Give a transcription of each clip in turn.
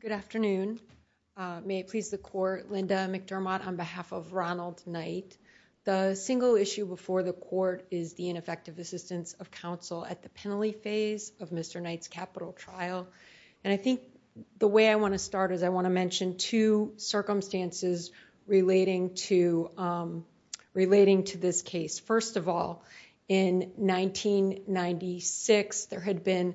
Good afternoon. May it please the court, Linda McDermott on behalf of Ronald Knight. The single issue before the court is the ineffective assistance of counsel at the penalty phase of Mr. Knight's capital trial. And I think the way I want to start is I want to mention two circumstances relating to this case. First of all, in 1996, there had been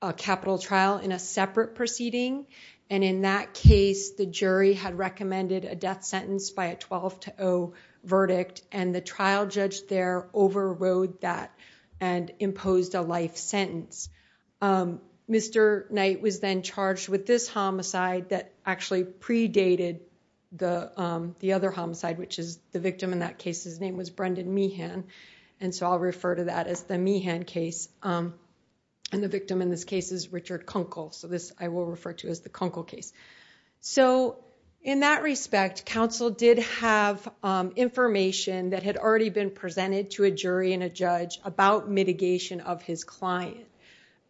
a capital trial in a separate proceeding. And in that case, the jury had recommended a death sentence by a 12 to 0 verdict. And the trial judge there overrode that and imposed a life sentence. Mr. Knight was then charged with this homicide that actually predated the other homicide, which is the victim in that case. His name was Brendan Meehan. And so I'll refer to that as the Meehan case. And the victim in this case is Richard Kunkel. So this I will refer to as the Kunkel case. So in that respect, counsel did have information that had already been presented to a jury and a judge about mitigation of his client.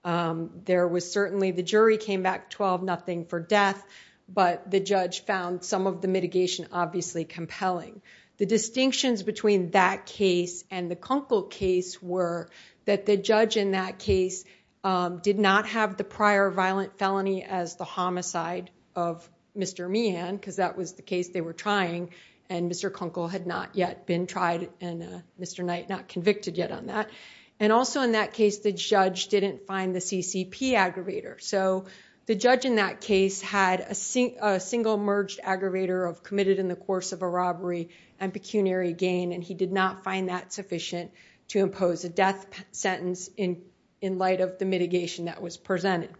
There was certainly the jury came back 12-0 for death, but the judge found some of the mitigation obviously compelling. The distinctions between that case and the Kunkel case were that the judge in that case did not have the prior violent felony as the homicide of Mr. Meehan, because that was the case they were trying. And Mr. Kunkel had not yet been tried, and Mr. Knight not convicted yet on that. And also in that case, the judge didn't find the CCP aggravator. So the judge in that case had a single merged aggravator committed in the course of a robbery and pecuniary gain, and he did not find that sufficient to impose a death sentence in light of the mitigation that was presented.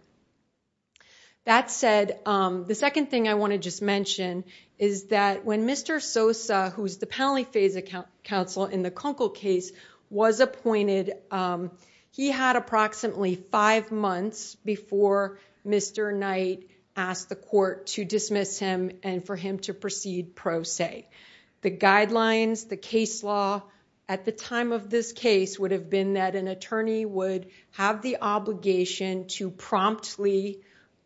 That said, the second thing I want to just mention is that when Mr. Sosa, who was the penalty phase counsel in the Kunkel case, was appointed, he had approximately five months before Mr. Knight asked the court to dismiss him and for him to proceed pro se. The guidelines, the case law at the time of this case would have been that an attorney would have the obligation to promptly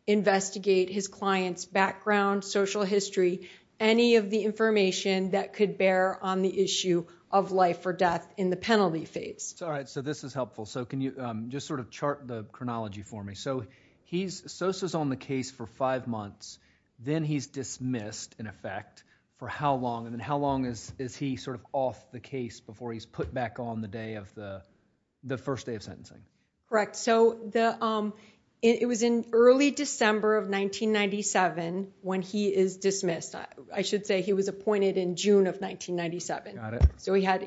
investigate his client's background, social history, any of the information that could bear on the issue of life or death in the penalty phase. All right, so this is helpful. So can you just sort of chart the chronology for me? So Sosa's on the case for five months, then he's dismissed, in effect, for how long? And then how long is he sort of off the case before he's put back on the day of the first day of sentencing? Correct. So it was in early December of 1997 when he is dismissed. I should say he was appointed in June of 1997. So he had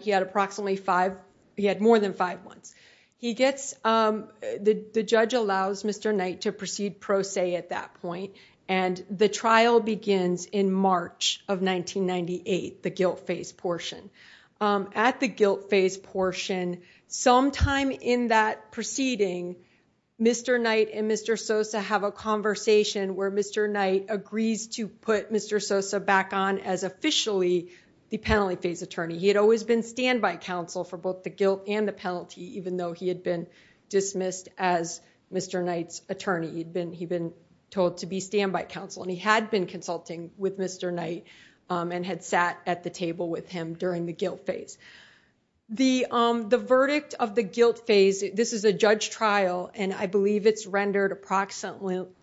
more than five months. The judge allows Mr. Knight to proceed pro se at that point and the trial begins in March of 1998, the guilt phase portion. At the guilt phase portion, sometime in that proceeding, Mr. Knight and Mr. Sosa have a conversation where Mr. Knight agrees to put Mr. Sosa back on as officially the penalty phase attorney. He had always been standby counsel for both the guilt and the penalty, even though he had been dismissed as Mr. Knight's attorney. He'd been told to be standby counsel and he had been consulting with Mr. Knight and had sat at the table with him during the guilt phase. The verdict of the guilt phase, this is a judge trial and I believe it's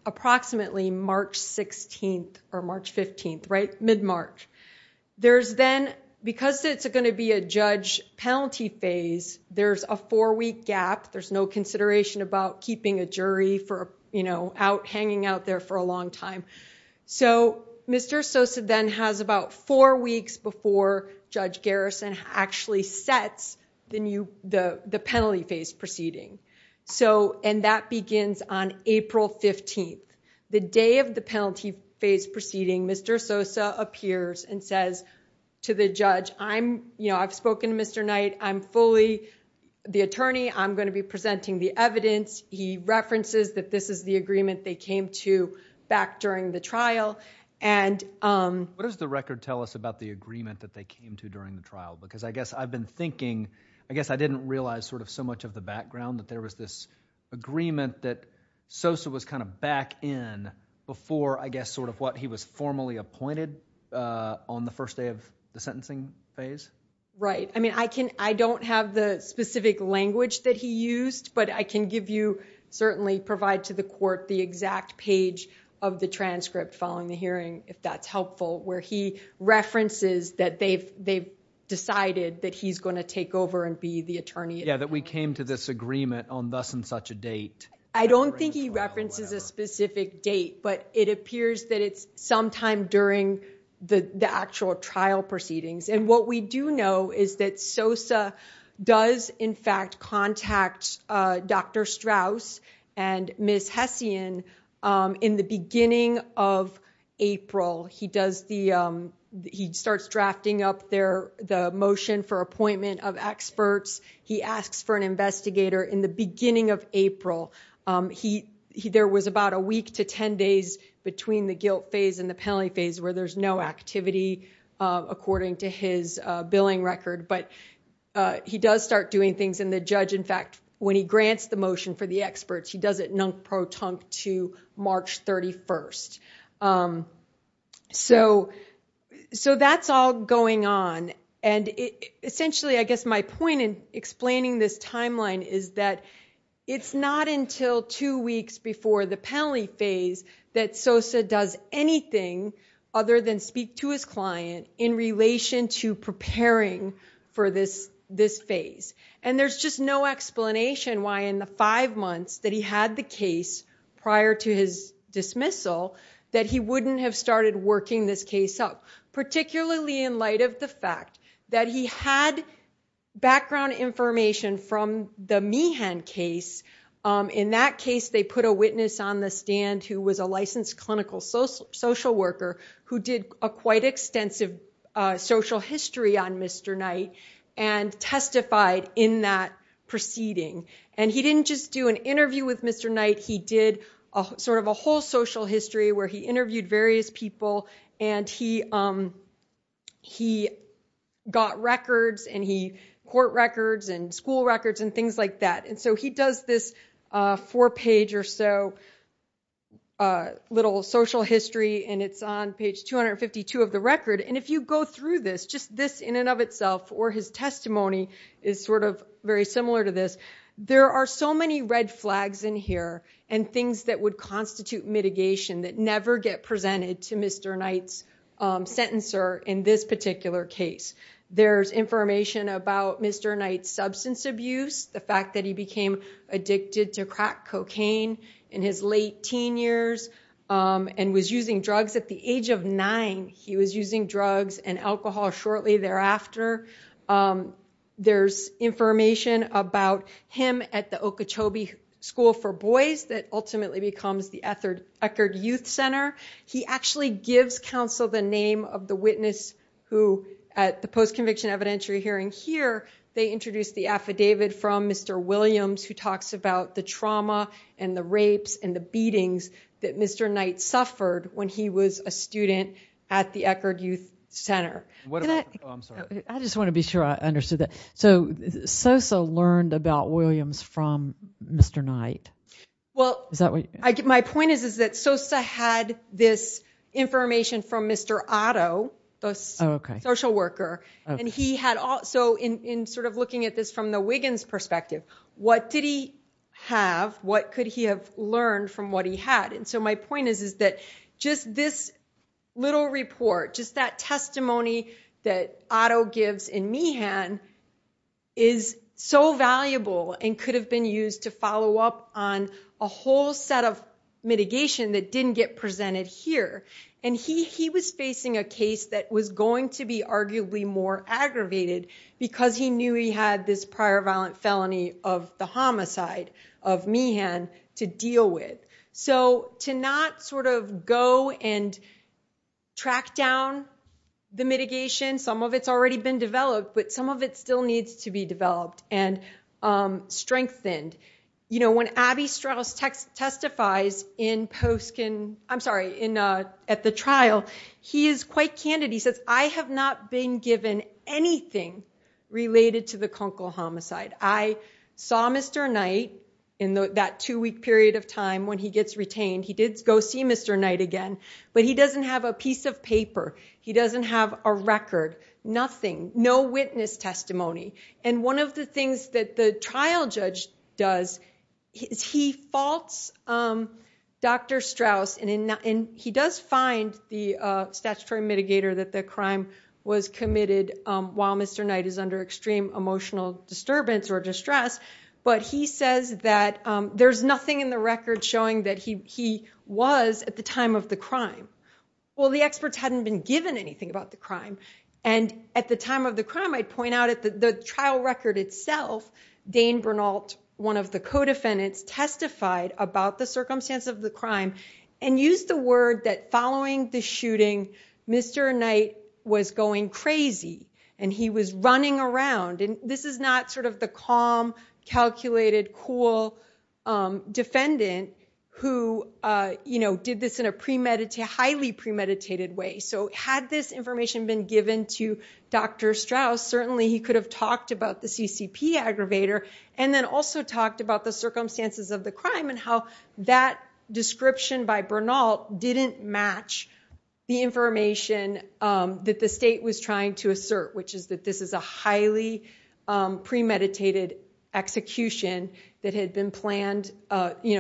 approximately March 16th or March 15th, right? Mid-March. Because it's going to be a judge penalty phase, there's a four-week gap. There's no consideration about keeping a jury hanging out there for a long time. So Mr. Sosa then has about four weeks before Judge Garrison actually sets the penalty phase proceeding. And that begins on April 15th. The day of the penalty phase proceeding, Mr. Sosa appears and says to the judge, I've spoken to Mr. Knight. I'm fully the attorney. I'm going to be presenting the evidence. He references that this is the agreement they came to back during the trial. What does the record tell us about the agreement that they came to during the trial? Because I guess I've been thinking, I guess I didn't realize sort of so much of the background that there was this agreement that Sosa was kind of back in before I guess sort of what he was formally appointed on the first day of the sentencing phase. Right. I mean, I don't have the specific language that he used, but I can give you, certainly provide to the court, the exact page of the transcript following the hearing if that's references that they've decided that he's going to take over and be the attorney. Yeah, that we came to this agreement on thus and such a date. I don't think he references a specific date, but it appears that it's sometime during the actual trial proceedings. And what we do know is that Sosa does in fact contact Dr. Strauss and Ms. Hessian in the beginning of April. He does the, he starts drafting up the motion for appointment of experts. He asks for an investigator in the beginning of April. He, there was about a week to 10 days between the guilt phase and the penalty phase where there's no activity according to his billing record. But he does start doing things and the judge, in fact, when he grants the motion for the experts, he does it non-proton to March 31st. So that's all going on. And essentially, I guess my point in explaining this timeline is that it's not until two weeks before the penalty phase that Sosa does anything other than speak to his client in relation to preparing for this, this phase. And there's just no explanation why in the five months that he had the case prior to his dismissal that he wouldn't have started working this case up, particularly in light of the fact that he had background information from the Meehan case. In that case, they put a witness on the stand who was a licensed clinical social worker who did a quite extensive social history on Mr. Knight and testified in that proceeding. And he didn't just do an interview with Mr. Knight. He did sort of a whole social history where he interviewed various people and he got records and he, court records and school records and things like that. And so he does this four page or so little social history and it's on page 252 of the record. And if you go through this, just this in and of itself, or his testimony is sort of very similar to this. There are so many red flags in here and things that would constitute mitigation that never get presented to Mr. Knight's sentencer in this particular case. There's information about Mr. Knight's substance abuse, the fact that he became addicted to crack cocaine in his late teen years and was using drugs at the age of nine. He was using drugs and alcohol shortly thereafter. There's information about him at the Okeechobee School for Boys that ultimately becomes the Eckerd Youth Center. He actually gives counsel the name of the witness who at the post-conviction evidentiary hearing here, they introduced the affidavit from Mr. Williams who talks about the trauma and the rapes and the beatings that Mr. Knight suffered when he was a student at the Eckerd Youth Center. I just want to be sure I understood that. So Sosa learned about Williams from Mr. Knight? Well, my point is that Sosa had this information from Mr. Otto, the social worker, and he had also in sort of looking at this from the Wiggins' perspective, what did he have? What could he have learned from what he had? And so my point is that just this little report, just that testimony that Otto gives in Meehan is so valuable and could have been used to follow up on a whole set of mitigation that didn't get presented here. And he was facing a case that was going to be arguably more aggravated because he knew he had this prior violent felony of the homicide of Meehan to deal with. So to not sort of go and track down the mitigation, some of it's already been developed, but some of it still needs to be developed and strengthened. When Abby Strauss testifies at the trial, he is quite candid. I have not been given anything related to the Kunkel homicide. I saw Mr. Knight in that two week period of time when he gets retained. He did go see Mr. Knight again, but he doesn't have a piece of paper. He doesn't have a record, nothing, no witness testimony. And one of the things that the trial judge does is he faults Dr. Strauss and he does find the statutory mitigator that the crime was committed while Mr. Knight is under extreme emotional disturbance or distress. But he says that there's nothing in the record showing that he was at the time of the crime. Well, the experts hadn't been given anything about the crime. And at the time of the crime, I'd point out at the trial record itself, Dane Bernalt, one of the co-defendants testified about the circumstance of the crime and used the word that following the shooting, Mr. Knight was going crazy and he was running around. And this is not sort of the calm, calculated, cool defendant who did this in a highly premeditated way. So had this information been given to Dr. Strauss, certainly he could have talked about the CCP aggravator and then also talked about the circumstances of the crime and how that description by Bernalt didn't match the information that the state was trying to assert, which is that this is a highly premeditated execution that had been planned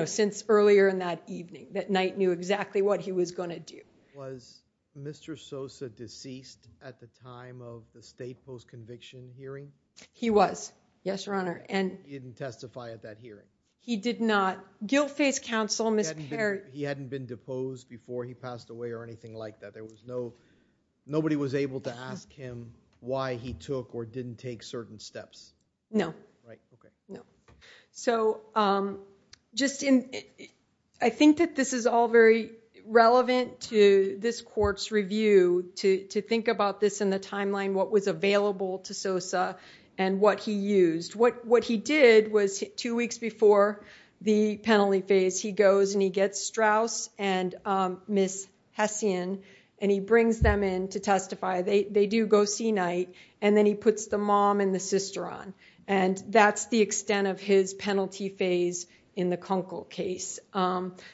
since earlier in that evening, that Knight knew exactly what he was going to do. Was Mr. Sosa deceased at the time of the state post-conviction hearing? He was. Yes, Your Honor. He didn't testify at that hearing? He did not. Guilfay's counsel, Ms. Perry. He hadn't been deposed before he passed away or anything like that? There was no, nobody was able to ask him why he took or didn't take certain steps? No. Right, okay. No. So just in, I think that this is all very relevant to this court's review to think about this in the timeline, what was available to Sosa and what he used. What he did was two weeks before the penalty phase, he goes and he gets Strauss and Ms. Hessian and he brings them in to testify. They do go see Knight and then he puts the mom and the sister on. And that's the extent of his penalty phase in the Kunkel case.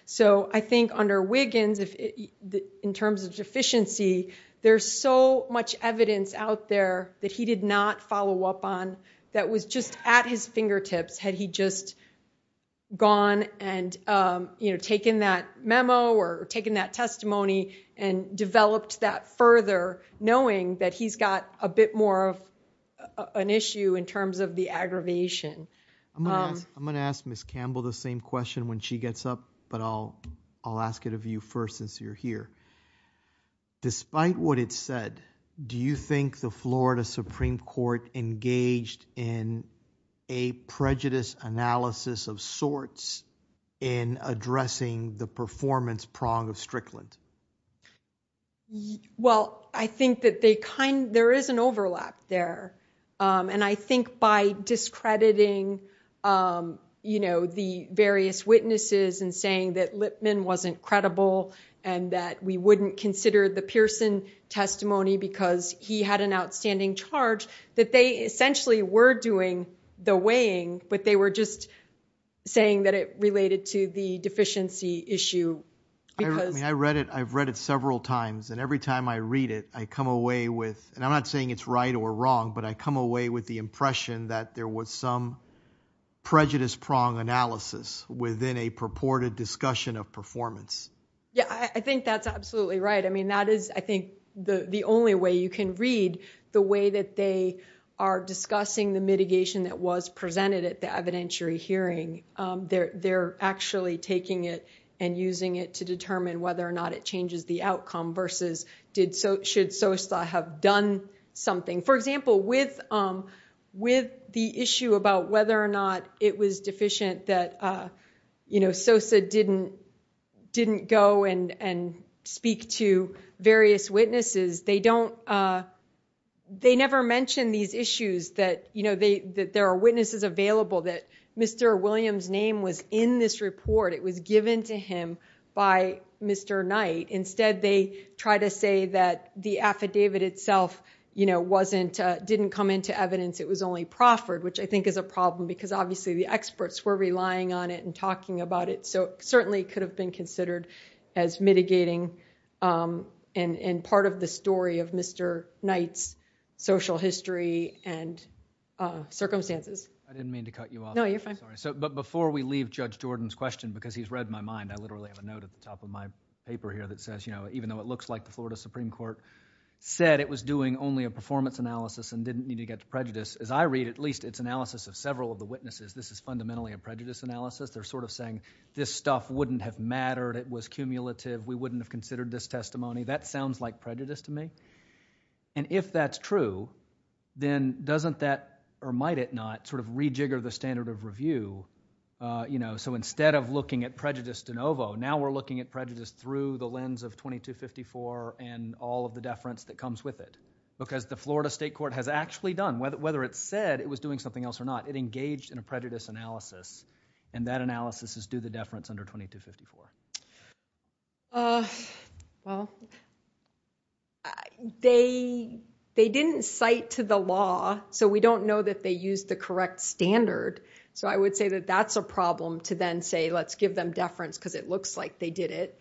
So I think under Wiggins, in terms of deficiency, there's so much evidence out there that he did not follow up on that was just at his fingertips had he just gone and taken that memo or taken that testimony and developed that further, knowing that he's got a bit more of an issue in terms of the aggravation. I'm going to ask Ms. Campbell the same question when she gets up, but I'll ask it of you first since you're here. Despite what it said, do you think the Florida Supreme Court engaged in a prejudice analysis of sorts in addressing the performance prong of Strickland? Well, I think that there is an overlap there. And I think by discrediting the various witnesses and saying that Lipman wasn't credible and that we wouldn't consider the Pearson testimony because he had an outstanding charge, that they essentially were doing the weighing, but they were just saying that it related to the deficiency issue. I read it. I've read it several times. And every time I read it, I come away with, and I'm not saying it's right or wrong, but I come away with the impression that there was some prejudice prong analysis within a purported discussion of performance. Yeah, I think that's absolutely right. I mean, that is, I think, the only way you can read the way that they are discussing the mitigation that was presented at the evidentiary hearing. They're actually taking it and using it to determine whether or not it changes the outcome versus should Sosa have done something. For example, with the issue about whether or not it was deficient that Sosa didn't go and speak to various witnesses, they never mentioned these issues that there are witnesses available that Mr. Williams' name was in this report. It was given to him by Mr. Knight. Instead, they try to say that the affidavit itself didn't come into evidence. It was only proffered, which I think is a problem because, obviously, the experts were relying on it and talking about it. So it certainly could have been considered as mitigating and part of the story of Mr. Knight's social history and circumstances. I didn't mean to cut you off. No, you're fine. But before we leave Judge Jordan's question, because he's read my mind, I literally have a note at the top of my paper here that says, even though it looks like the Florida Supreme Court said it was doing only a performance analysis and didn't need to get to prejudice, as I read at least its analysis of several of the witnesses, this is fundamentally a prejudice analysis. They're sort of saying, this stuff wouldn't have mattered. It was cumulative. We wouldn't have considered this testimony. That sounds like prejudice to me. And if that's true, then doesn't that, or might it not, sort of rejigger the standard of review? So instead of looking at prejudice de novo, now we're looking at prejudice through the lens of 2254 and all of the deference that comes with it. Because the Florida State Court has actually done, whether it said it was doing something else or not, it engaged in a prejudice analysis, and that analysis is due the deference under 2254. Well, they didn't cite to the law, so we don't know that they used the correct standard. So I would say that that's a problem to then say, let's give them deference because it looks like they did it.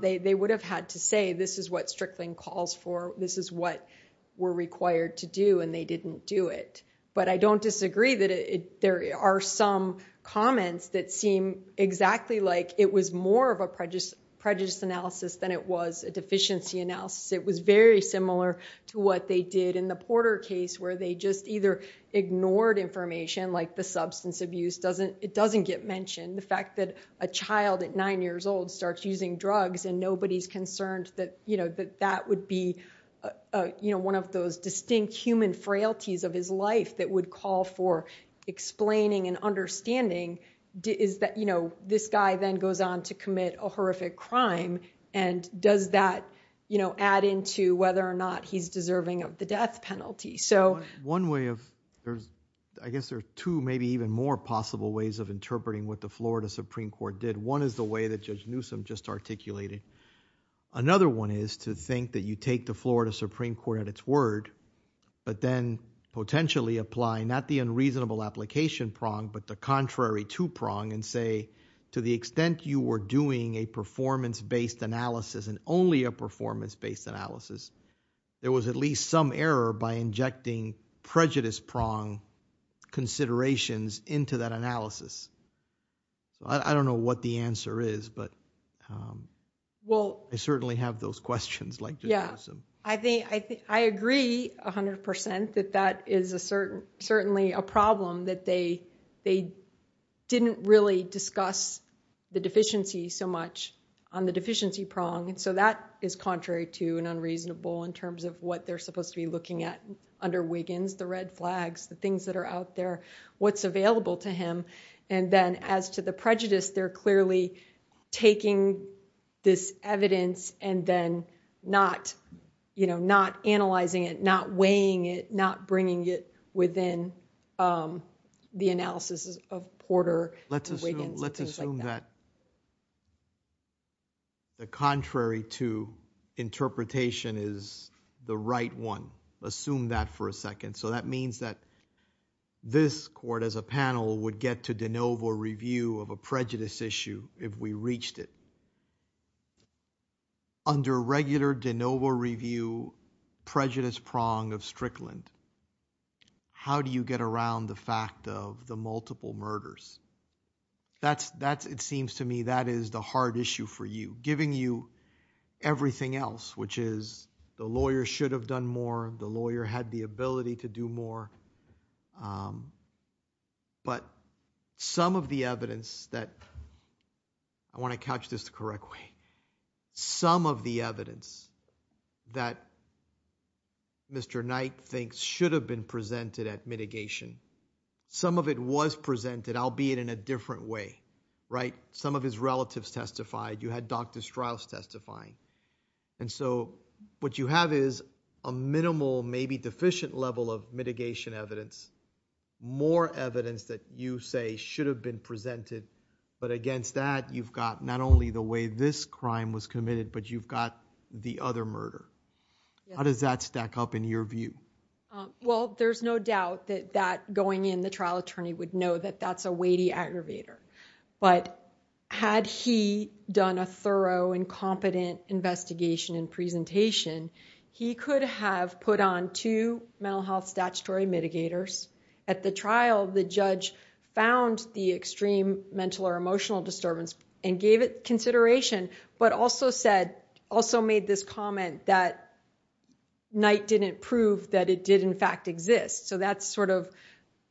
They would have had to say, this is what Strickling calls for. This is what we're required to do, and they didn't do it. But I don't disagree that there are some comments that seem exactly like it was more of a prejudice analysis than it was a deficiency analysis. It was very similar to what they did in the Porter case, where they just either ignored information like the substance abuse. It doesn't get mentioned. The fact that a child at nine years old starts using drugs and nobody's concerned that that would be one of those distinct human frailties of his life that would call for explaining and understanding is that this guy then goes on to commit a horrific crime. And does that add into whether or not he's deserving of the death penalty? So one way of, I guess there are two maybe even more possible ways of interpreting what the Florida Supreme Court did. One is the way that Judge Newsom just articulated. Another one is to think that you take the Florida Supreme Court at its word, but then potentially apply not the unreasonable application prong, but the contrary two prong and say, to the extent you were doing a performance based analysis and only a performance based analysis, there was at least some error by injecting prejudice prong considerations into that analysis. So I don't know what the answer is, but I certainly have those questions like Judge Newsom. I agree 100% that that is certainly a problem that they didn't really discuss the deficiency so much on the deficiency prong. And so that is contrary to and unreasonable in terms of what they're supposed to be looking at under Wiggins, the red flags, the things that are out there, what's available to him. And then as to the prejudice, they're clearly taking this evidence and then not analyzing it, not weighing it, not bringing it within the analysis of Porter and Wiggins and things like that. Let's assume that the contrary two interpretation is the right one. Assume that for a second. So that means that this court as a panel would get to de novo review of a prejudice issue if we reached it. Under regular de novo review, prejudice prong of Strickland, how do you get around the fact of the multiple murders? It seems to me that is the hard issue for you. Giving you everything else, which is the lawyer should have done more. The lawyer had the ability to do more. But some of the evidence that I want to catch this the correct way. Some of the evidence that Mr. Knight thinks should have been presented at mitigation. Some of it was presented, albeit in a different way, right? Some of his relatives testified. You had Dr. Strauss testifying. And so what you have is a minimal, maybe deficient level of mitigation evidence. More evidence that you say should have been presented. But against that, you've got not only the way this crime was committed, but you've got the other murder. How does that stack up in your view? Well, there's no doubt that that going in the trial attorney would know that that's a weighty aggravator. But had he done a thorough and competent investigation and presentation, he could have put on two mental health statutory mitigators. At the trial, the judge found the extreme mental or emotional disturbance and gave it consideration, but also said, also made this comment that Knight didn't prove that it did in fact exist. So that's sort of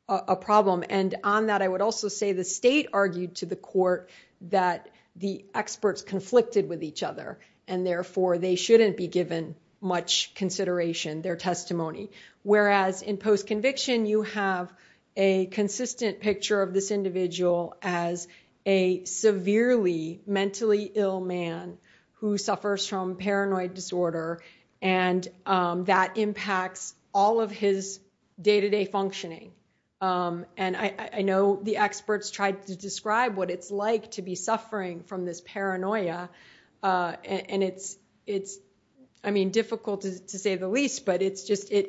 a problem. And on that, I would also say the state argued to the court that the experts conflicted with each other, and therefore they shouldn't be given much consideration, their testimony. Whereas in post-conviction, you have a consistent picture of this individual as a severely mentally ill man who suffers from paranoid disorder, and that impacts all of his day to day functioning. And I know the experts tried to describe what it's like to be suffering from this paranoia, and it's, I mean, difficult to say the least, but it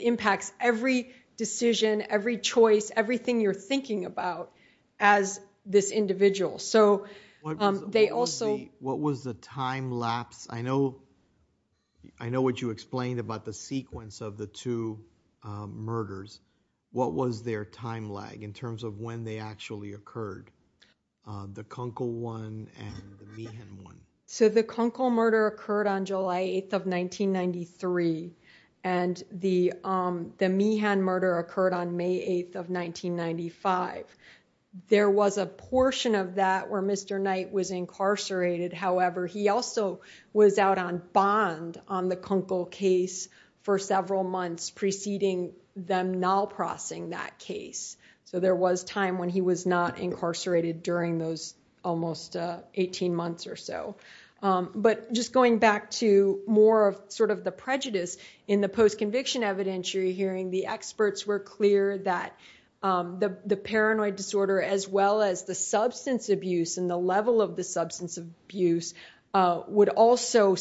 impacts every decision, every choice, everything you're thinking about as this individual. So they also- What was the time lapse? I know what you explained about the sequence of the two murders. What was their time lag in terms of when they actually occurred? The Kunkel one and the Meehan one. So the Kunkel murder occurred on July 8th of 1993, and the Meehan murder occurred on May 8th of 1995. There was a portion of that where Mr. Knight was incarcerated. However, he also was out on bond on the Kunkel case for several months preceding them non-processing that case. So there was time when he was not incarcerated during those almost 18 months or so. But just going back to more of sort of the prejudice in the post-conviction evidentiary hearing, the experts were clear that the paranoid disorder, as well as the substance abuse and the level of the substance abuse, would also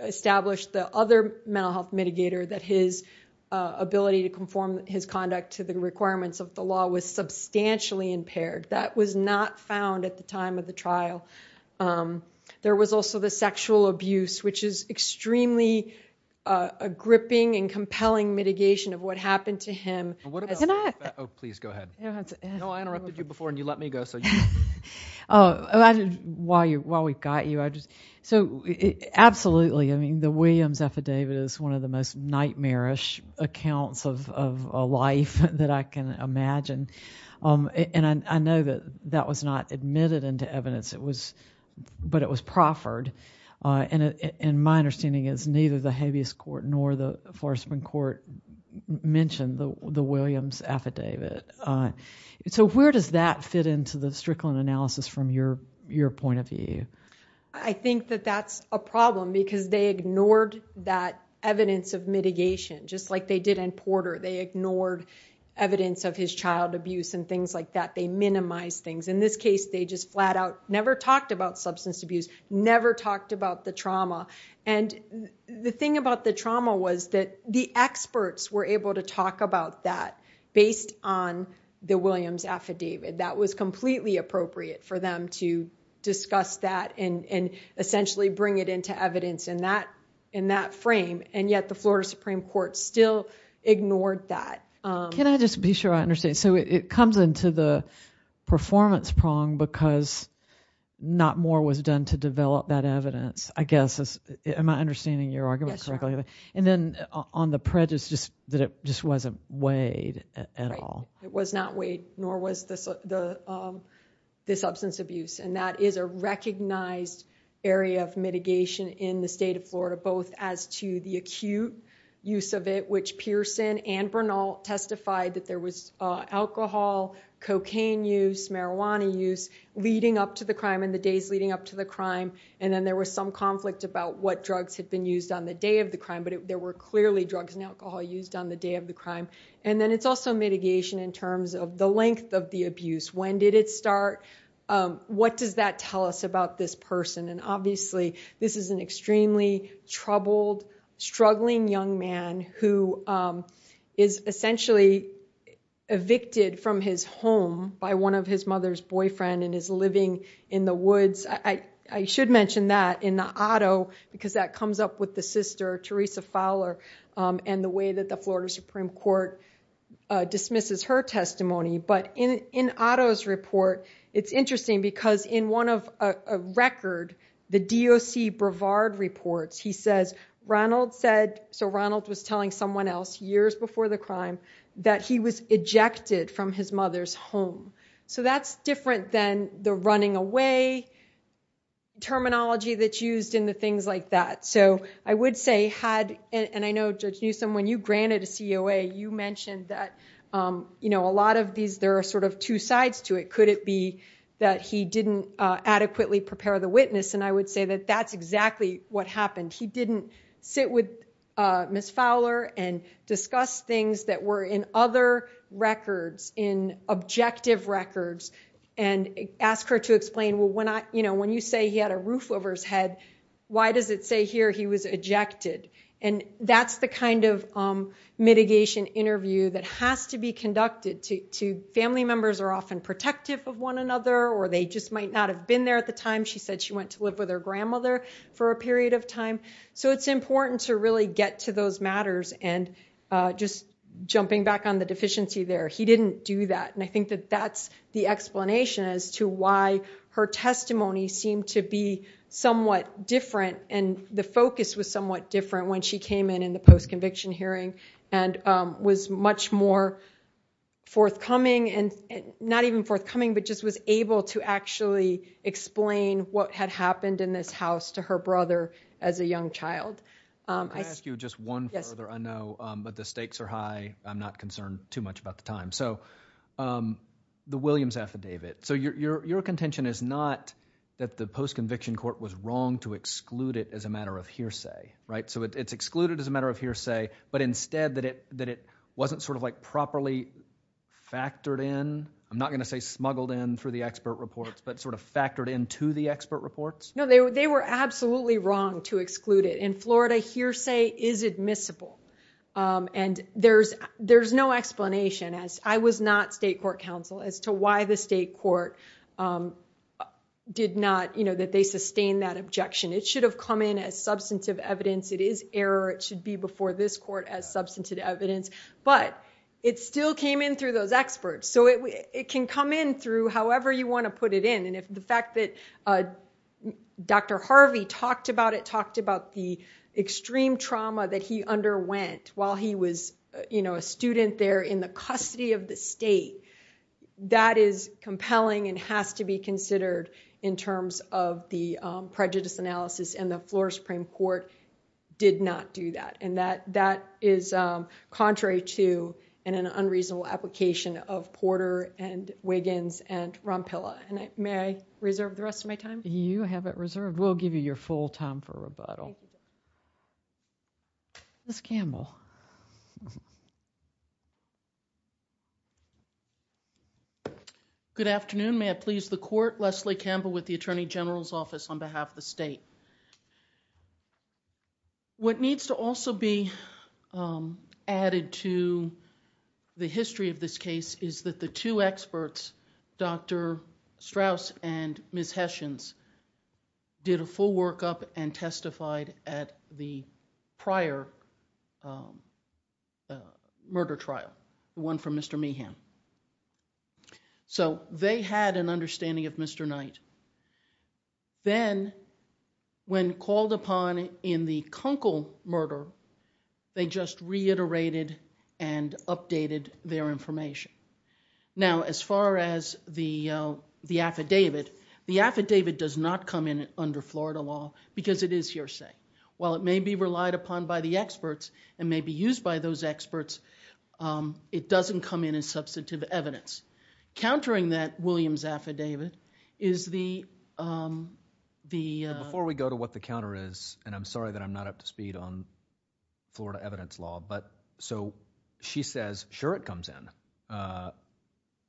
establish the other mental health mitigator that his ability to conform his conduct to the requirements of the law was substantially impaired. That was not found at the time of the trial. There was also the sexual abuse, which is extremely a gripping and compelling mitigation of what happened to him as an act. Oh, please go ahead. No, I interrupted you before and you let me go. Oh, while we've got you. So absolutely, I mean, the Williams affidavit is one of the most nightmarish accounts of a life that I can imagine. And I know that that was not admitted into evidence, but it was proffered. And my understanding is neither the habeas court nor the Forsman court mentioned the Williams affidavit. So where does that fit into the Strickland analysis from your point of view? I think that that's a problem because they ignored that evidence of mitigation, just like they did in Porter. They ignored evidence of his child abuse and things like that. They minimized things. In this case, they just flat out never talked about substance abuse, never talked about the trauma. And the thing about the trauma was that the experts were able to talk about that based on the Williams affidavit. That was completely appropriate for them to discuss that and essentially bring it into evidence in that in that frame. And yet the Florida Supreme Court still ignored that. Can I just be sure I understand? So it comes into the performance prong because not more was done to develop that evidence, I guess, am I understanding your argument correctly? And then on the prejudice, just that it just wasn't weighed at all. It was not weighed, nor was this the substance abuse. And that is a recognized area of mitigation in the state of Florida, both as to the acute use of it, which Pearson and Bernal testified that there was alcohol, cocaine use, marijuana use leading up to the crime in the days leading up to the crime. And then there was some conflict about what drugs had been used on the day of the crime, but there were clearly drugs and alcohol used on the day of the crime. And then it's also mitigation in terms of the length of the abuse. When did it start? What does that tell us about this person? And obviously, this is an extremely troubled, struggling young man who is essentially evicted from his home by one of his mother's boyfriend and is living in the woods. I should mention that in the Otto, because that comes up with the sister, Teresa Fowler, and the way that the Florida Supreme Court dismisses her testimony. But in Otto's report, it's interesting because in one of a record, the DOC Brevard reports, he says, Ronald said, so Ronald was telling someone else years before the crime that he was ejected from his mother's home. So that's different than the running away terminology that's used in the things like that. So I would say had, and I know Judge Newsom, when you granted a COA, you mentioned that a lot of these, there are sort of two sides to it. Could it be that he didn't adequately prepare the witness? And I would say that that's exactly what happened. He didn't sit with Ms. Fowler and discuss things that were in other records, in objective records, and ask her to explain, well, when you say he had a roof over his head, why does it say here he was ejected? And that's the kind of mitigation interview that has to be conducted. Family members are often protective of one another, or they just might not have been there at the time. She said she went to live with her grandmother for a period of time. So it's important to really get to those matters. And just jumping back on the deficiency there, he didn't do that. And I think that that's the explanation as to why her testimony seemed to be somewhat different, and the focus was somewhat different when she came in in the post-conviction hearing, and was much more forthcoming, and not even forthcoming, but just was able to actually explain what had happened in this house to her brother as a young child. Can I ask you just one further? I know, but the stakes are high. I'm not concerned too much about the time. So the Williams affidavit. So your contention is not that the post-conviction court was wrong to exclude it as a matter of hearsay, right? So it's excluded as a matter of hearsay, but instead that it wasn't sort of like properly factored in, I'm not going to say smuggled in through the expert reports, but sort of factored into the expert reports? No, they were absolutely wrong to exclude it. In Florida, hearsay is admissible. And there's no explanation, as I was not state court counsel, as to why the state court did not, that they sustained that objection. It should have come in as substantive evidence. It is error. It should be before this court as substantive evidence. But it still came in through those experts. So it can come in through however you want to put it in. The fact that Dr. Harvey talked about it, talked about the extreme trauma that he underwent while he was a student there in the custody of the state, that is compelling and has to be considered in terms of the prejudice analysis. And the Florida Supreme Court did not do that. And that is contrary to and an unreasonable application of Porter and Wiggins and Rompilla. May I reserve the rest of my time? You have it reserved. We'll give you your full time for rebuttal. Thank you. Ms. Campbell. Good afternoon. May I please the court? Leslie Campbell with the Attorney General's Office on behalf of the state. What needs to also be added to the history of this case is that the two experts, Dr. Strauss and Ms. Hessions, did a full workup and testified at the prior murder trial, the one from Mr. Meehan. So they had an understanding of Mr. Knight. Then when called upon in the Kunkel murder, they just reiterated and updated their information. Now, as far as the affidavit, the affidavit does not come in under Florida law because it is hearsay. While it may be relied upon by the experts and may be used by those experts, it doesn't come in as substantive evidence. Countering that Williams affidavit is the... Before we go to what the counter is, and I'm sorry that I'm not up to speed on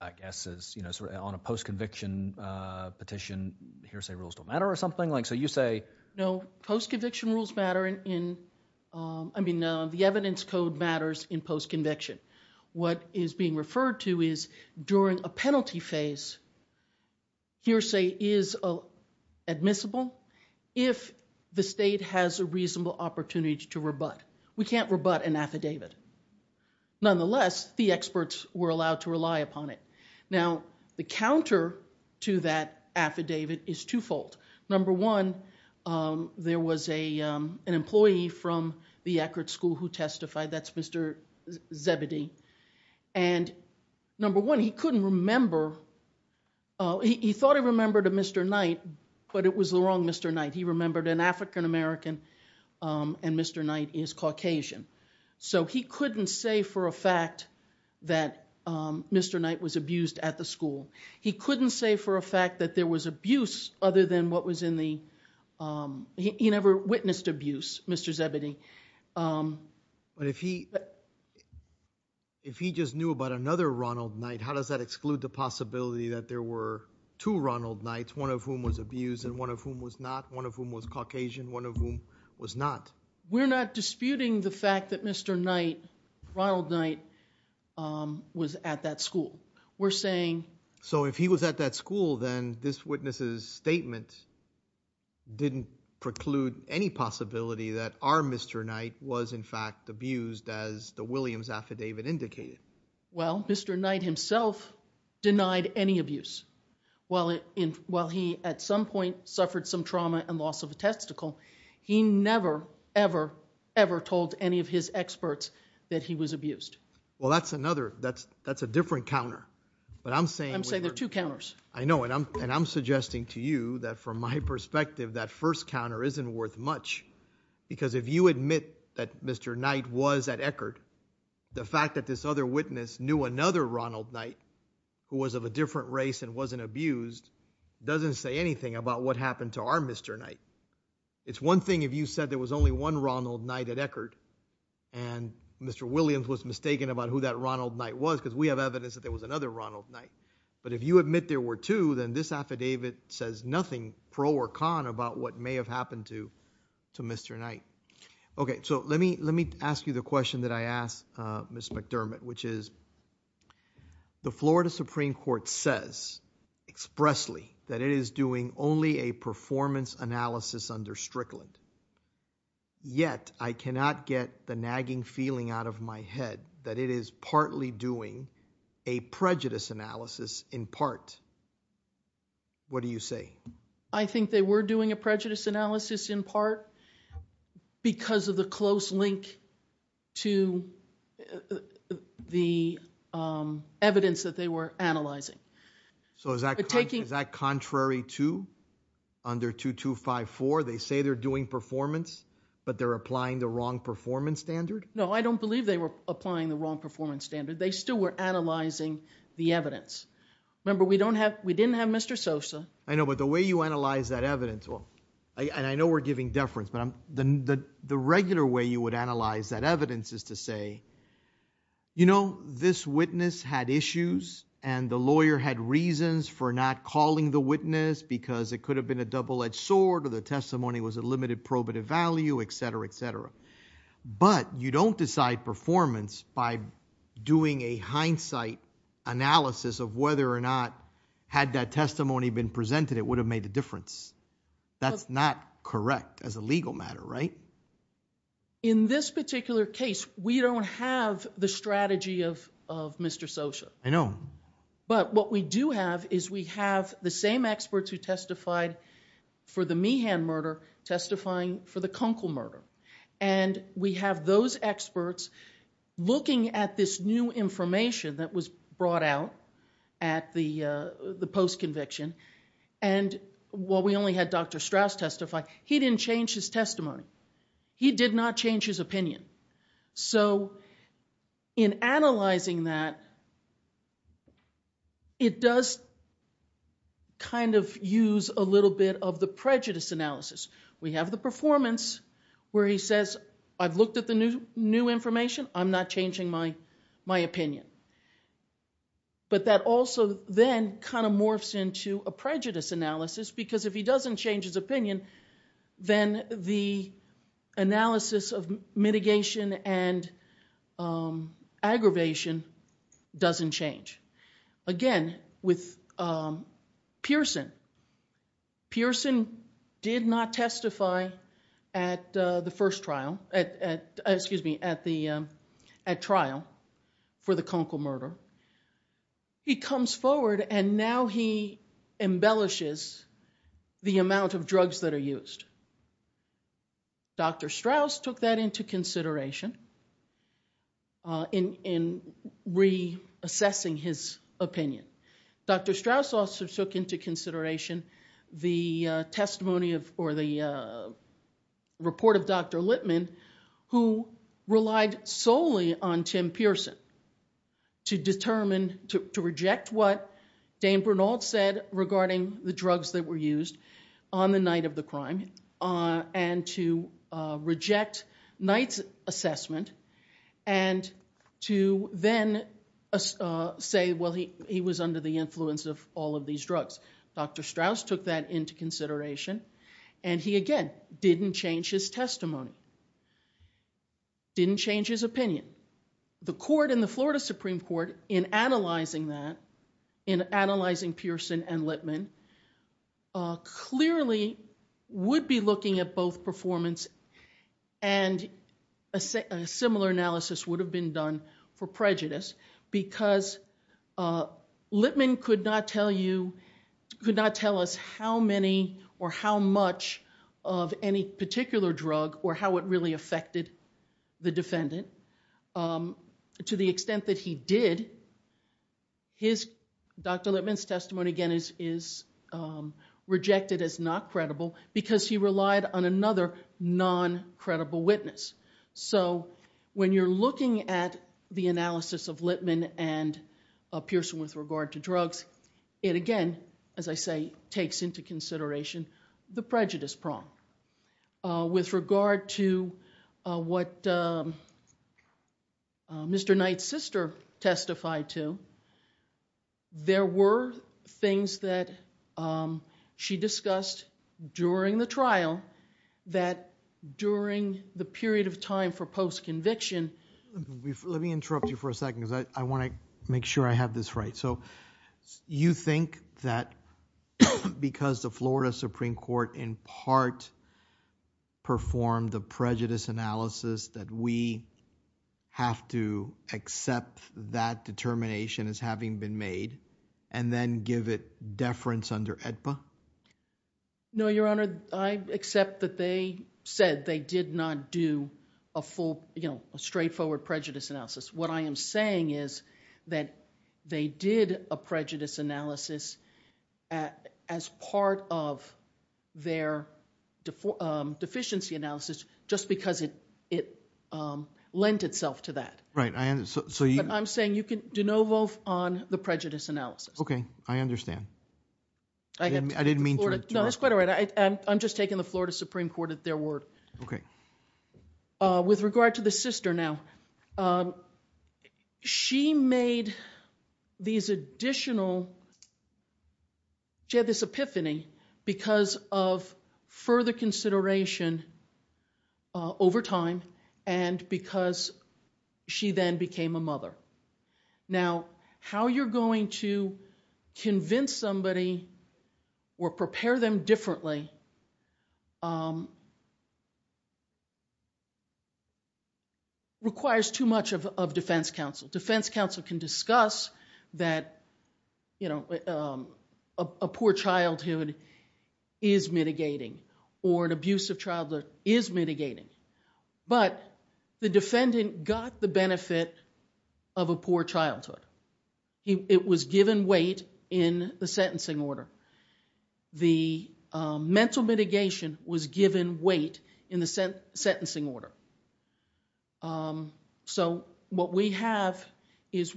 I guess on a post-conviction petition, hearsay rules don't matter or something? So you say... No, post-conviction rules matter in... I mean, the evidence code matters in post-conviction. What is being referred to is during a penalty phase, hearsay is admissible if the state has a reasonable opportunity to rebut. We can't rebut an affidavit. Nonetheless, the experts were allowed to rely upon it. Now, the counter to that affidavit is twofold. Number one, there was an employee from the Eckerd School who testified. That's Mr. Zebedee. Number one, he couldn't remember... he thought he remembered a Mr. Knight, but it was the wrong Mr. Knight. He remembered an African-American and Mr. Knight is Caucasian. So he couldn't say for a fact that Mr. Knight was abused at the school. He couldn't say for a fact that there was abuse other than what was in the... He never witnessed abuse, Mr. Zebedee. But if he just knew about another Ronald Knight, how does that exclude the possibility that there were two Ronald Knights, one of whom was abused and one of whom was not, one of whom was Caucasian, one of whom was not? We're not disputing the fact that Mr. Knight, Ronald Knight, was at that school. We're saying... So if he was at that school, then this witness's statement didn't preclude any possibility that our Mr. Knight was, in fact, abused as the Williams affidavit indicated. Well, Mr. Knight himself denied any abuse. While he, at some point, suffered some trauma and loss of a testicle, he never, ever, ever told any of his experts that he was abused. Well, that's another... that's a different counter. But I'm saying... I'm saying there are two counters. I know, and I'm suggesting to you that, from my perspective, that first counter isn't worth much because if you admit that Mr. Knight was at Eckerd, the fact that this other witness knew another Ronald Knight who was of a different race and wasn't abused doesn't say anything about what happened to our Mr. Knight. It's one thing if you said there was only one Ronald Knight at Eckerd and Mr. Williams was mistaken about who that Ronald Knight was because we have evidence that there was another Ronald Knight, but if you admit there were two, then this affidavit says nothing pro or con about what may have happened to Mr. Knight. Okay, so let me ask you the question that I asked, Ms. McDermott, which is, the Florida Supreme Court says expressly that it is doing only a performance analysis under Strickland. Yet, I cannot get the nagging feeling out of my head that it is partly doing a prejudice analysis in part. What do you say? I think they were doing a prejudice analysis in part because of the close link to the evidence that they were analyzing. So is that contrary to under 2254? They say they're doing performance, but they're applying the wrong performance standard? No, I don't believe they were applying the wrong performance standard. They still were analyzing the evidence. Remember, we didn't have Mr. Sosa. I know, but the way you analyze that evidence, and I know we're giving deference, but the regular way you would analyze that evidence is to say, you know, this witness had issues and the lawyer had reasons for not calling the witness because it could have been a double edged sword or the testimony was a limited probative value, et cetera, et cetera. But you don't decide performance by doing a hindsight analysis of whether or not, had that testimony been presented, it would have made a difference. That's not correct as a legal matter, right? In this particular case, we don't have the strategy of Mr. Sosa. I know. But what we do have is we have the same experts who testified for the Meehan murder testifying for the Kunkel murder, and we have those experts looking at this new information that was brought out at the post conviction, and while we only had Dr. Strauss testify, he didn't change his testimony. He did not change his opinion. So in analyzing that, it does kind of use a little bit of the prejudice analysis. We have the performance where he says, I've looked at the new information. I'm not changing my opinion. But that also then kind of morphs into a prejudice analysis because if he doesn't change his analysis of mitigation and aggravation, doesn't change. Again, with Pearson. Pearson did not testify at the first trial, excuse me, at trial for the Kunkel murder. He comes forward and now he embellishes the amount of drugs that are used. Dr. Strauss took that into consideration in reassessing his opinion. Dr. Strauss also took into consideration the testimony of, or the report of Dr. Littman, who relied solely on Tim Pearson to determine, to reject what Dan Bernal said regarding the reject Knight's assessment and to then say, well, he was under the influence of all of these drugs. Dr. Strauss took that into consideration and he again, didn't change his testimony. Didn't change his opinion. The court in the Florida Supreme Court in analyzing that, in analyzing Pearson and Littman, clearly would be looking at both performance and a similar analysis would have been done for prejudice because Littman could not tell you, could not tell us how many or how much of any particular drug or how it really affected the defendant. And to the extent that he did, Dr. Littman's testimony again is rejected as not credible because he relied on another non-credible witness. So when you're looking at the analysis of Littman and Pearson with regard to drugs, it again, as I say, takes into consideration the prejudice prong. With regard to what Mr. Knight's sister testified to, there were things that she discussed during the trial that during the period of time for post-conviction... Let me interrupt you for a second because I want to make sure I have this right. You think that because the Florida Supreme Court in part performed the prejudice analysis that we have to accept that determination as having been made and then give it deference under AEDPA? No, Your Honor. I accept that they said they did not do a straightforward prejudice analysis. What I am saying is that they did a prejudice analysis as part of their deficiency analysis just because it lent itself to that. I'm saying you can de novo on the prejudice analysis. Okay. I understand. I didn't mean to... No, it's quite all right. I'm just taking the Florida Supreme Court at their word. Okay. With regard to the sister now, she had this epiphany because of further consideration over time and because she then became a mother. Now, how you're going to convince somebody or prepare them differently requires too much of defense counsel. Defense counsel can discuss that a poor childhood is mitigating or an abusive childhood is mitigating, but the defendant got the benefit of a poor childhood. It was given weight in the sentencing order. The mental mitigation was given weight in the sentencing order. What we have is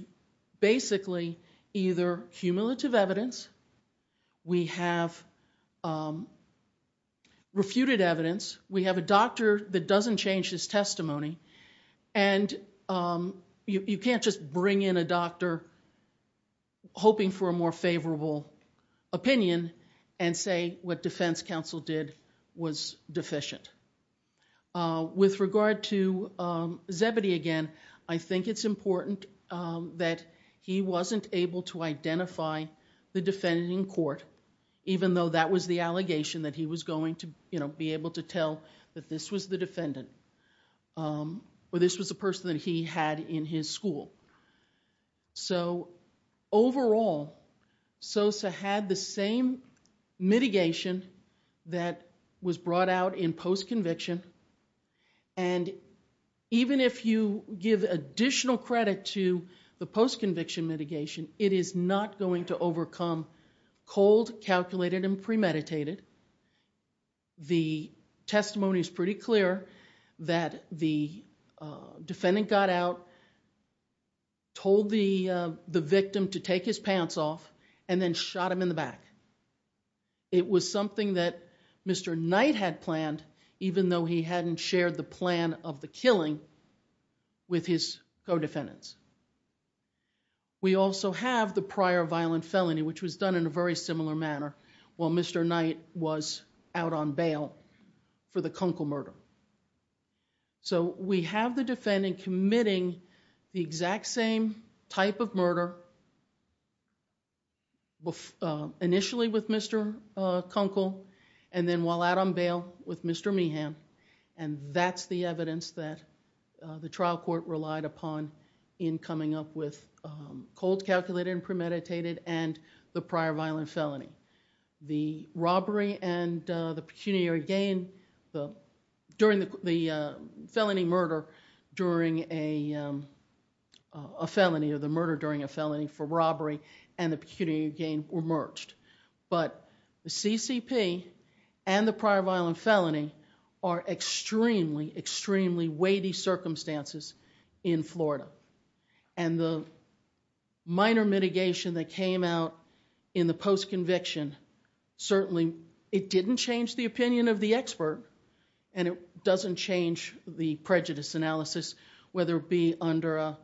basically either cumulative evidence, we have refuted evidence, we have a doctor that doesn't change his testimony, and you can't just bring in a doctor hoping for a more favorable opinion and say what defense counsel did was deficient. With regard to Zebedee again, I think it's important that he wasn't able to identify the defendant in court even though that was the allegation that he was going to be able to tell that this was the defendant or this was the person that he had in his school. Overall, SOSA had the same mitigation that was brought out in post-conviction and even if you give additional credit to the post-conviction mitigation, it is not going to overcome cold, calculated and premeditated. The testimony is pretty clear that the defendant got out, told the victim to take his pants off and then shot him in the back. It was something that Mr. Knight had planned even though he hadn't shared the plan of the killing with his co-defendants. We also have the prior violent felony which was done in a very similar manner while Mr. Knight was out on bail for the Kunkel murder. We have the defendant committing the exact same type of murder initially with Mr. Kunkel and then while out on bail with Mr. Meehan and that's the evidence that the trial court relied upon in coming up with cold, calculated and premeditated and the prior violent felony. The robbery and the pecuniary gain during the felony murder during a felony or the murder during a felony for robbery and the pecuniary gain were merged. But the CCP and the prior violent felony are extremely, extremely weighty circumstances in Florida and the minor mitigation that came out in the post-conviction certainly it didn't change the opinion of the expert and it doesn't change the prejudice analysis whether it be under a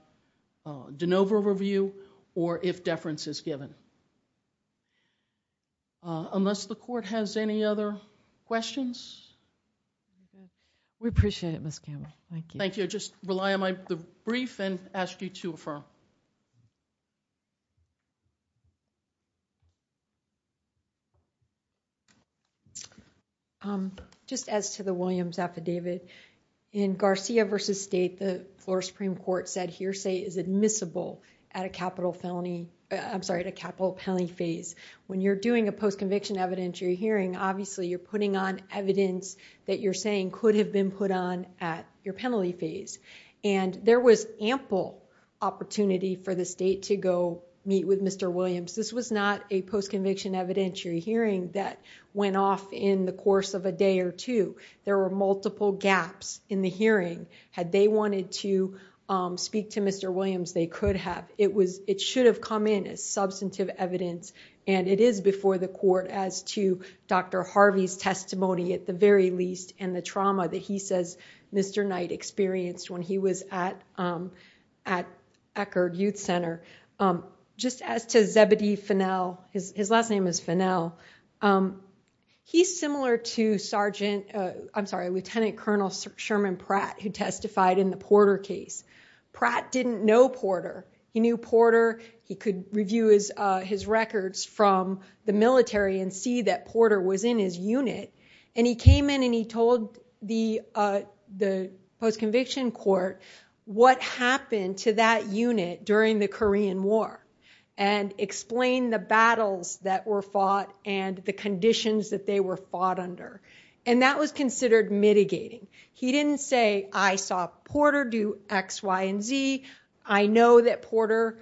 de novo review or if deference is given. Unless the court has any other questions? Mm-hmm. We appreciate it, Ms. Campbell. Thank you. Thank you. Just rely on the brief and ask you to affirm. Just as to the Williams affidavit, in Garcia versus State the Florida Supreme Court said hearsay is admissible at a capital felony, I'm sorry, at a capital penalty phase. When you're doing a post-conviction evidence you're hearing obviously you're putting on evidence that you're saying could have been put on at your penalty phase and there was ample opportunity for the state to go meet with Mr. Williams. This was not a post-conviction evidentiary hearing that went off in the course of a day or two. There were multiple gaps in the hearing. Had they wanted to speak to Mr. Williams they could have. It should have come in as substantive evidence and it is before the court as to Dr. Harvey's testimony at the very least and the trauma that he says Mr. Knight experienced when he was at Eckerd Youth Center. Just as to Zebedee Fennell, his last name is Fennell, he's similar to Lieutenant Colonel Sherman Pratt who testified in the Porter case. Pratt didn't know Porter. He knew Porter. He could review his records from the military and see that Porter was in his unit and he came in and he told the post-conviction court what happened to that unit during the Korean War and explained the battles that were fought and the conditions that they were fought under and that was considered mitigating. He didn't say I saw Porter do X, Y, and Z. I know that Porter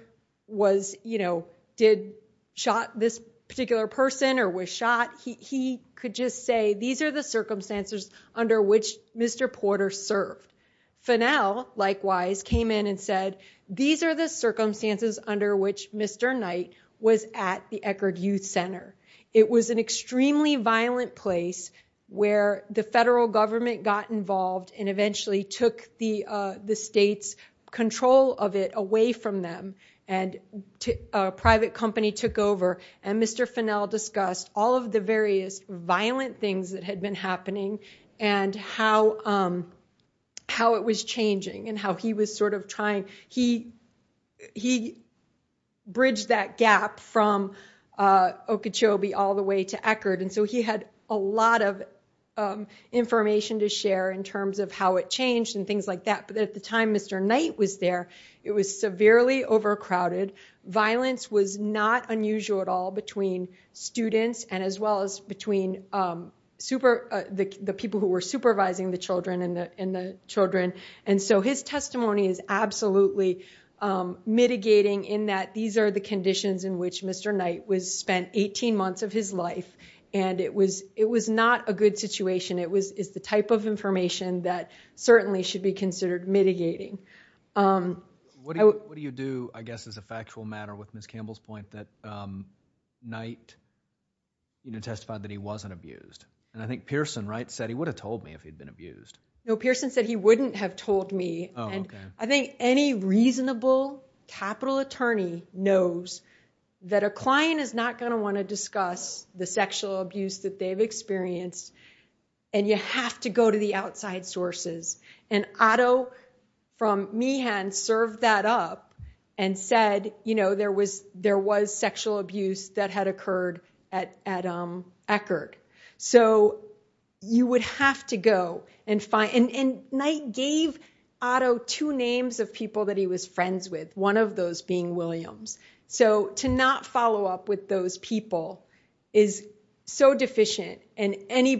did shot this particular person or was shot. He could just say these are the circumstances under which Mr. Porter served. Fennell, likewise, came in and said these are the circumstances under which Mr. Knight was at the Eckerd Youth Center. It was an extremely violent place where the federal government got involved and eventually took the state's control of it away from them and a private company took over and Mr. Fennell discussed all of the various violent things that had been happening and how it was changing and how he was sort of trying. He bridged that gap from Okeechobee all the way to Eckerd and so he had a lot of information to share in terms of how it changed and things like that but at the time Mr. Knight was there, it was severely overcrowded. Violence was not unusual at all between students and as well as between the people who were supervising the children and the children and so his testimony is absolutely mitigating in that these are the conditions in which Mr. Knight spent 18 months of his life and it was not a good situation. It's the type of information that certainly should be considered mitigating. What do you do, I guess, as a factual matter with Ms. Campbell's point that Knight testified that he wasn't abused? And I think Pearson, right, said he would have told me if he'd been abused. No, Pearson said he wouldn't have told me. I think any reasonable capital attorney knows that a client is not going to want to discuss the sexual abuse that they've experienced and you have to go to the outside sources and Otto from Meehan served that up and said, you know, there was sexual abuse that had occurred at Eckerd. So you would have to go and find, and Knight gave Otto two names of people that he was friends with, one of those being Williams. So to not follow up with those people is so deficient and any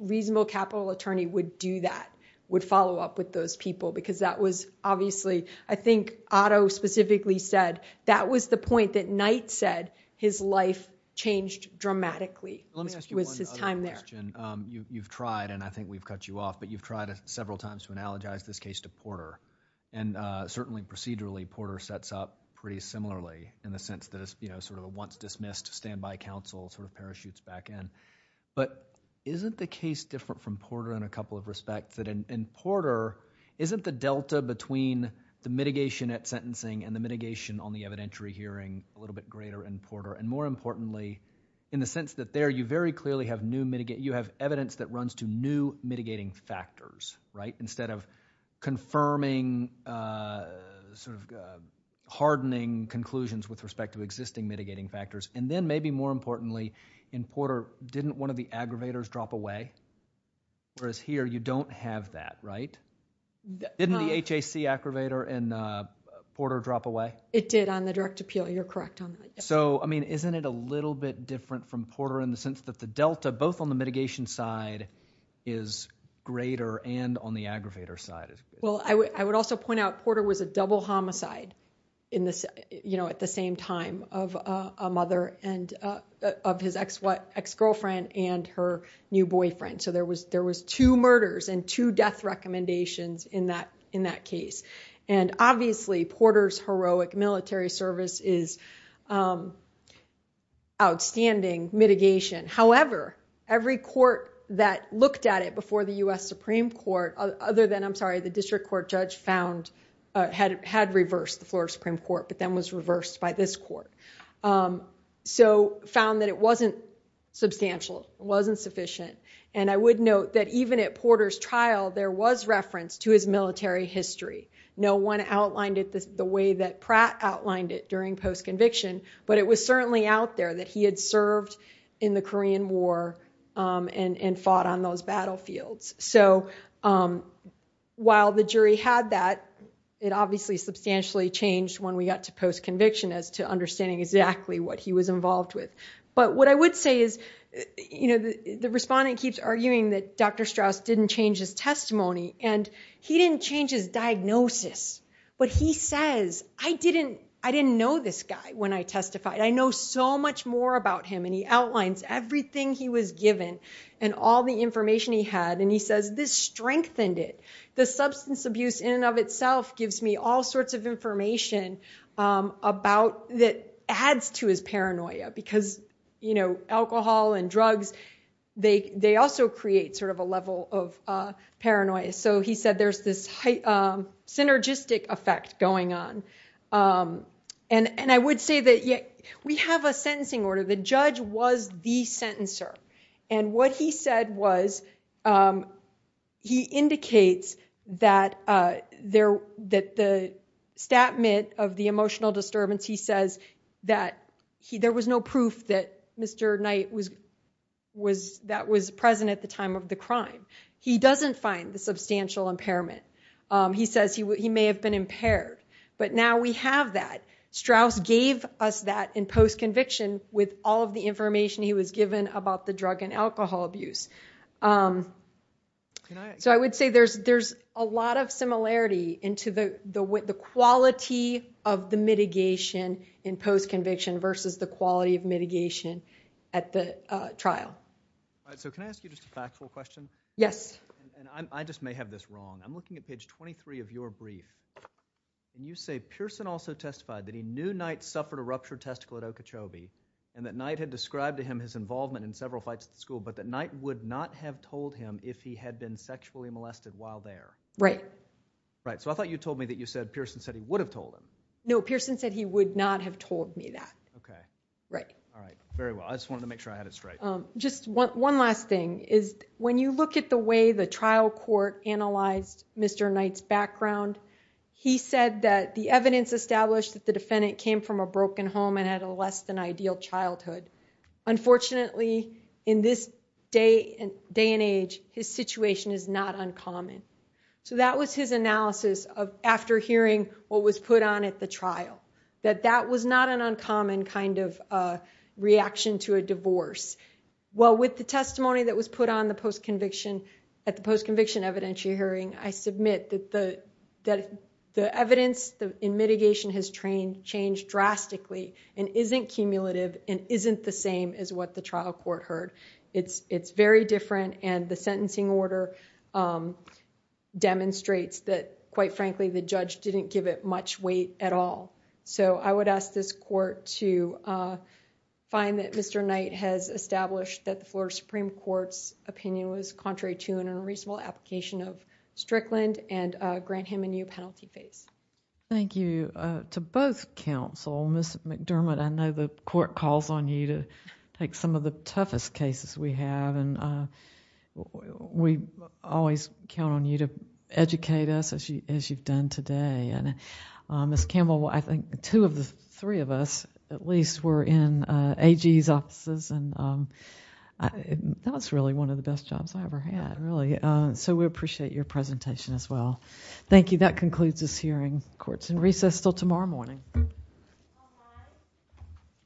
reasonable capital attorney would do that, would follow up with those people because that was obviously, I think, Otto specifically said that was the point that Knight said his life changed dramatically. Let me ask you one other question. You've tried and I think we've cut you off, but you've tried several times to analogize this case to Porter and certainly procedurally Porter sets up pretty similarly in the sense that it's, you know, sort of a once dismissed standby counsel sort of parachutes back in. But isn't the case different from Porter in a couple of respects that in Porter, isn't the delta between the mitigation at sentencing and the mitigation on the evidentiary hearing a little bit greater in Porter? And more importantly, in the sense that there you very clearly have new, you have evidence that runs to new mitigating factors, right? Confirming sort of hardening conclusions with respect to existing mitigating factors. And then maybe more importantly in Porter, didn't one of the aggravators drop away? Whereas here you don't have that, right? Didn't the HAC aggravator in Porter drop away? It did on the direct appeal. You're correct on that. So, I mean, isn't it a little bit different from Porter in the sense that the delta both on the mitigation side is greater and on the aggravator side? Well, I would also point out Porter was a double homicide in this, you know, at the same time of a mother and of his ex-girlfriend and her new boyfriend. So, there was two murders and two death recommendations in that case. And obviously Porter's heroic military service is outstanding mitigation. However, every court that looked at it before the U.S. Supreme Court, other than, I'm sorry, the district court judge found, had reversed the floor of Supreme Court, but then was reversed by this court. So, found that it wasn't substantial, it wasn't sufficient. And I would note that even at Porter's trial, there was reference to his military history. No one outlined it the way that Pratt outlined it during post-conviction, but it was certainly out there that he had served in the Korean War and fought on those battlefields. So, while the jury had that, it obviously substantially changed when we got to post-conviction as to understanding exactly what he was involved with. But what I would say is, you know, the respondent keeps arguing that Dr. Strauss didn't change his testimony and he didn't change his diagnosis. But he says, I didn't know this guy when I testified. I know so much more about him. And he outlines everything he was given and all the information he had. And he says, this strengthened it. The substance abuse in and of itself gives me all sorts of information about, that adds to his paranoia because, you know, alcohol and drugs, they also create sort of a level of paranoia. So, he said there's this synergistic effect going on. And I would say that we have a sentencing order. The judge was the sentencer. And what he said was, he indicates that the statment of the emotional disturbance, he says that there was no proof that Mr. Knight was, that was present at the time of the crime. He doesn't find the substantial impairment. He says he may have been impaired. But now we have that. Strauss gave us that in post-conviction with all of the information he was given about the drug and alcohol abuse. So, I would say there's a lot of similarity into the quality of the mitigation in post-conviction versus the quality of mitigation at the trial. All right. So, can I ask you just a factual question? Yes. And I just may have this wrong. I'm looking at page 23 of your brief. You say Pearson also testified that he knew Knight suffered a ruptured testicle at Okeechobee and that Knight had described to him his involvement in several fights at the school, but that Knight would not have told him if he had been sexually molested while there. Right. Right. So, I thought you told me that you said Pearson said he would have told him. No, Pearson said he would not have told me that. Okay. Right. All right. Very well. I just wanted to make sure I had it straight. Just one last thing is, when you look at the way the trial court analyzed Mr. Knight's testimony, you said that the evidence established that the defendant came from a broken home and had a less than ideal childhood. Unfortunately, in this day and age, his situation is not uncommon. So, that was his analysis of after hearing what was put on at the trial, that that was not an uncommon kind of reaction to a divorce. Well, with the testimony that was put on at the post-conviction evidentiary hearing, I submit that the evidence in mitigation has changed drastically and isn't cumulative and isn't the same as what the trial court heard. It's very different and the sentencing order demonstrates that, quite frankly, the judge didn't give it much weight at all. So, I would ask this court to find that Mr. Knight has established that the Florida Supreme Court's opinion was contrary to and unreasonable application of Strickland and grant him a new penalty phase. Thank you. To both counsel, Ms. McDermott, I know the court calls on you to take some of the toughest cases we have and we always count on you to educate us as you've done today. Ms. Campbell, I think two of the three of us at least were in AG's offices. And that was really one of the best jobs I ever had, really. So, we appreciate your presentation as well. Thank you. That concludes this hearing. Court's in recess until tomorrow morning.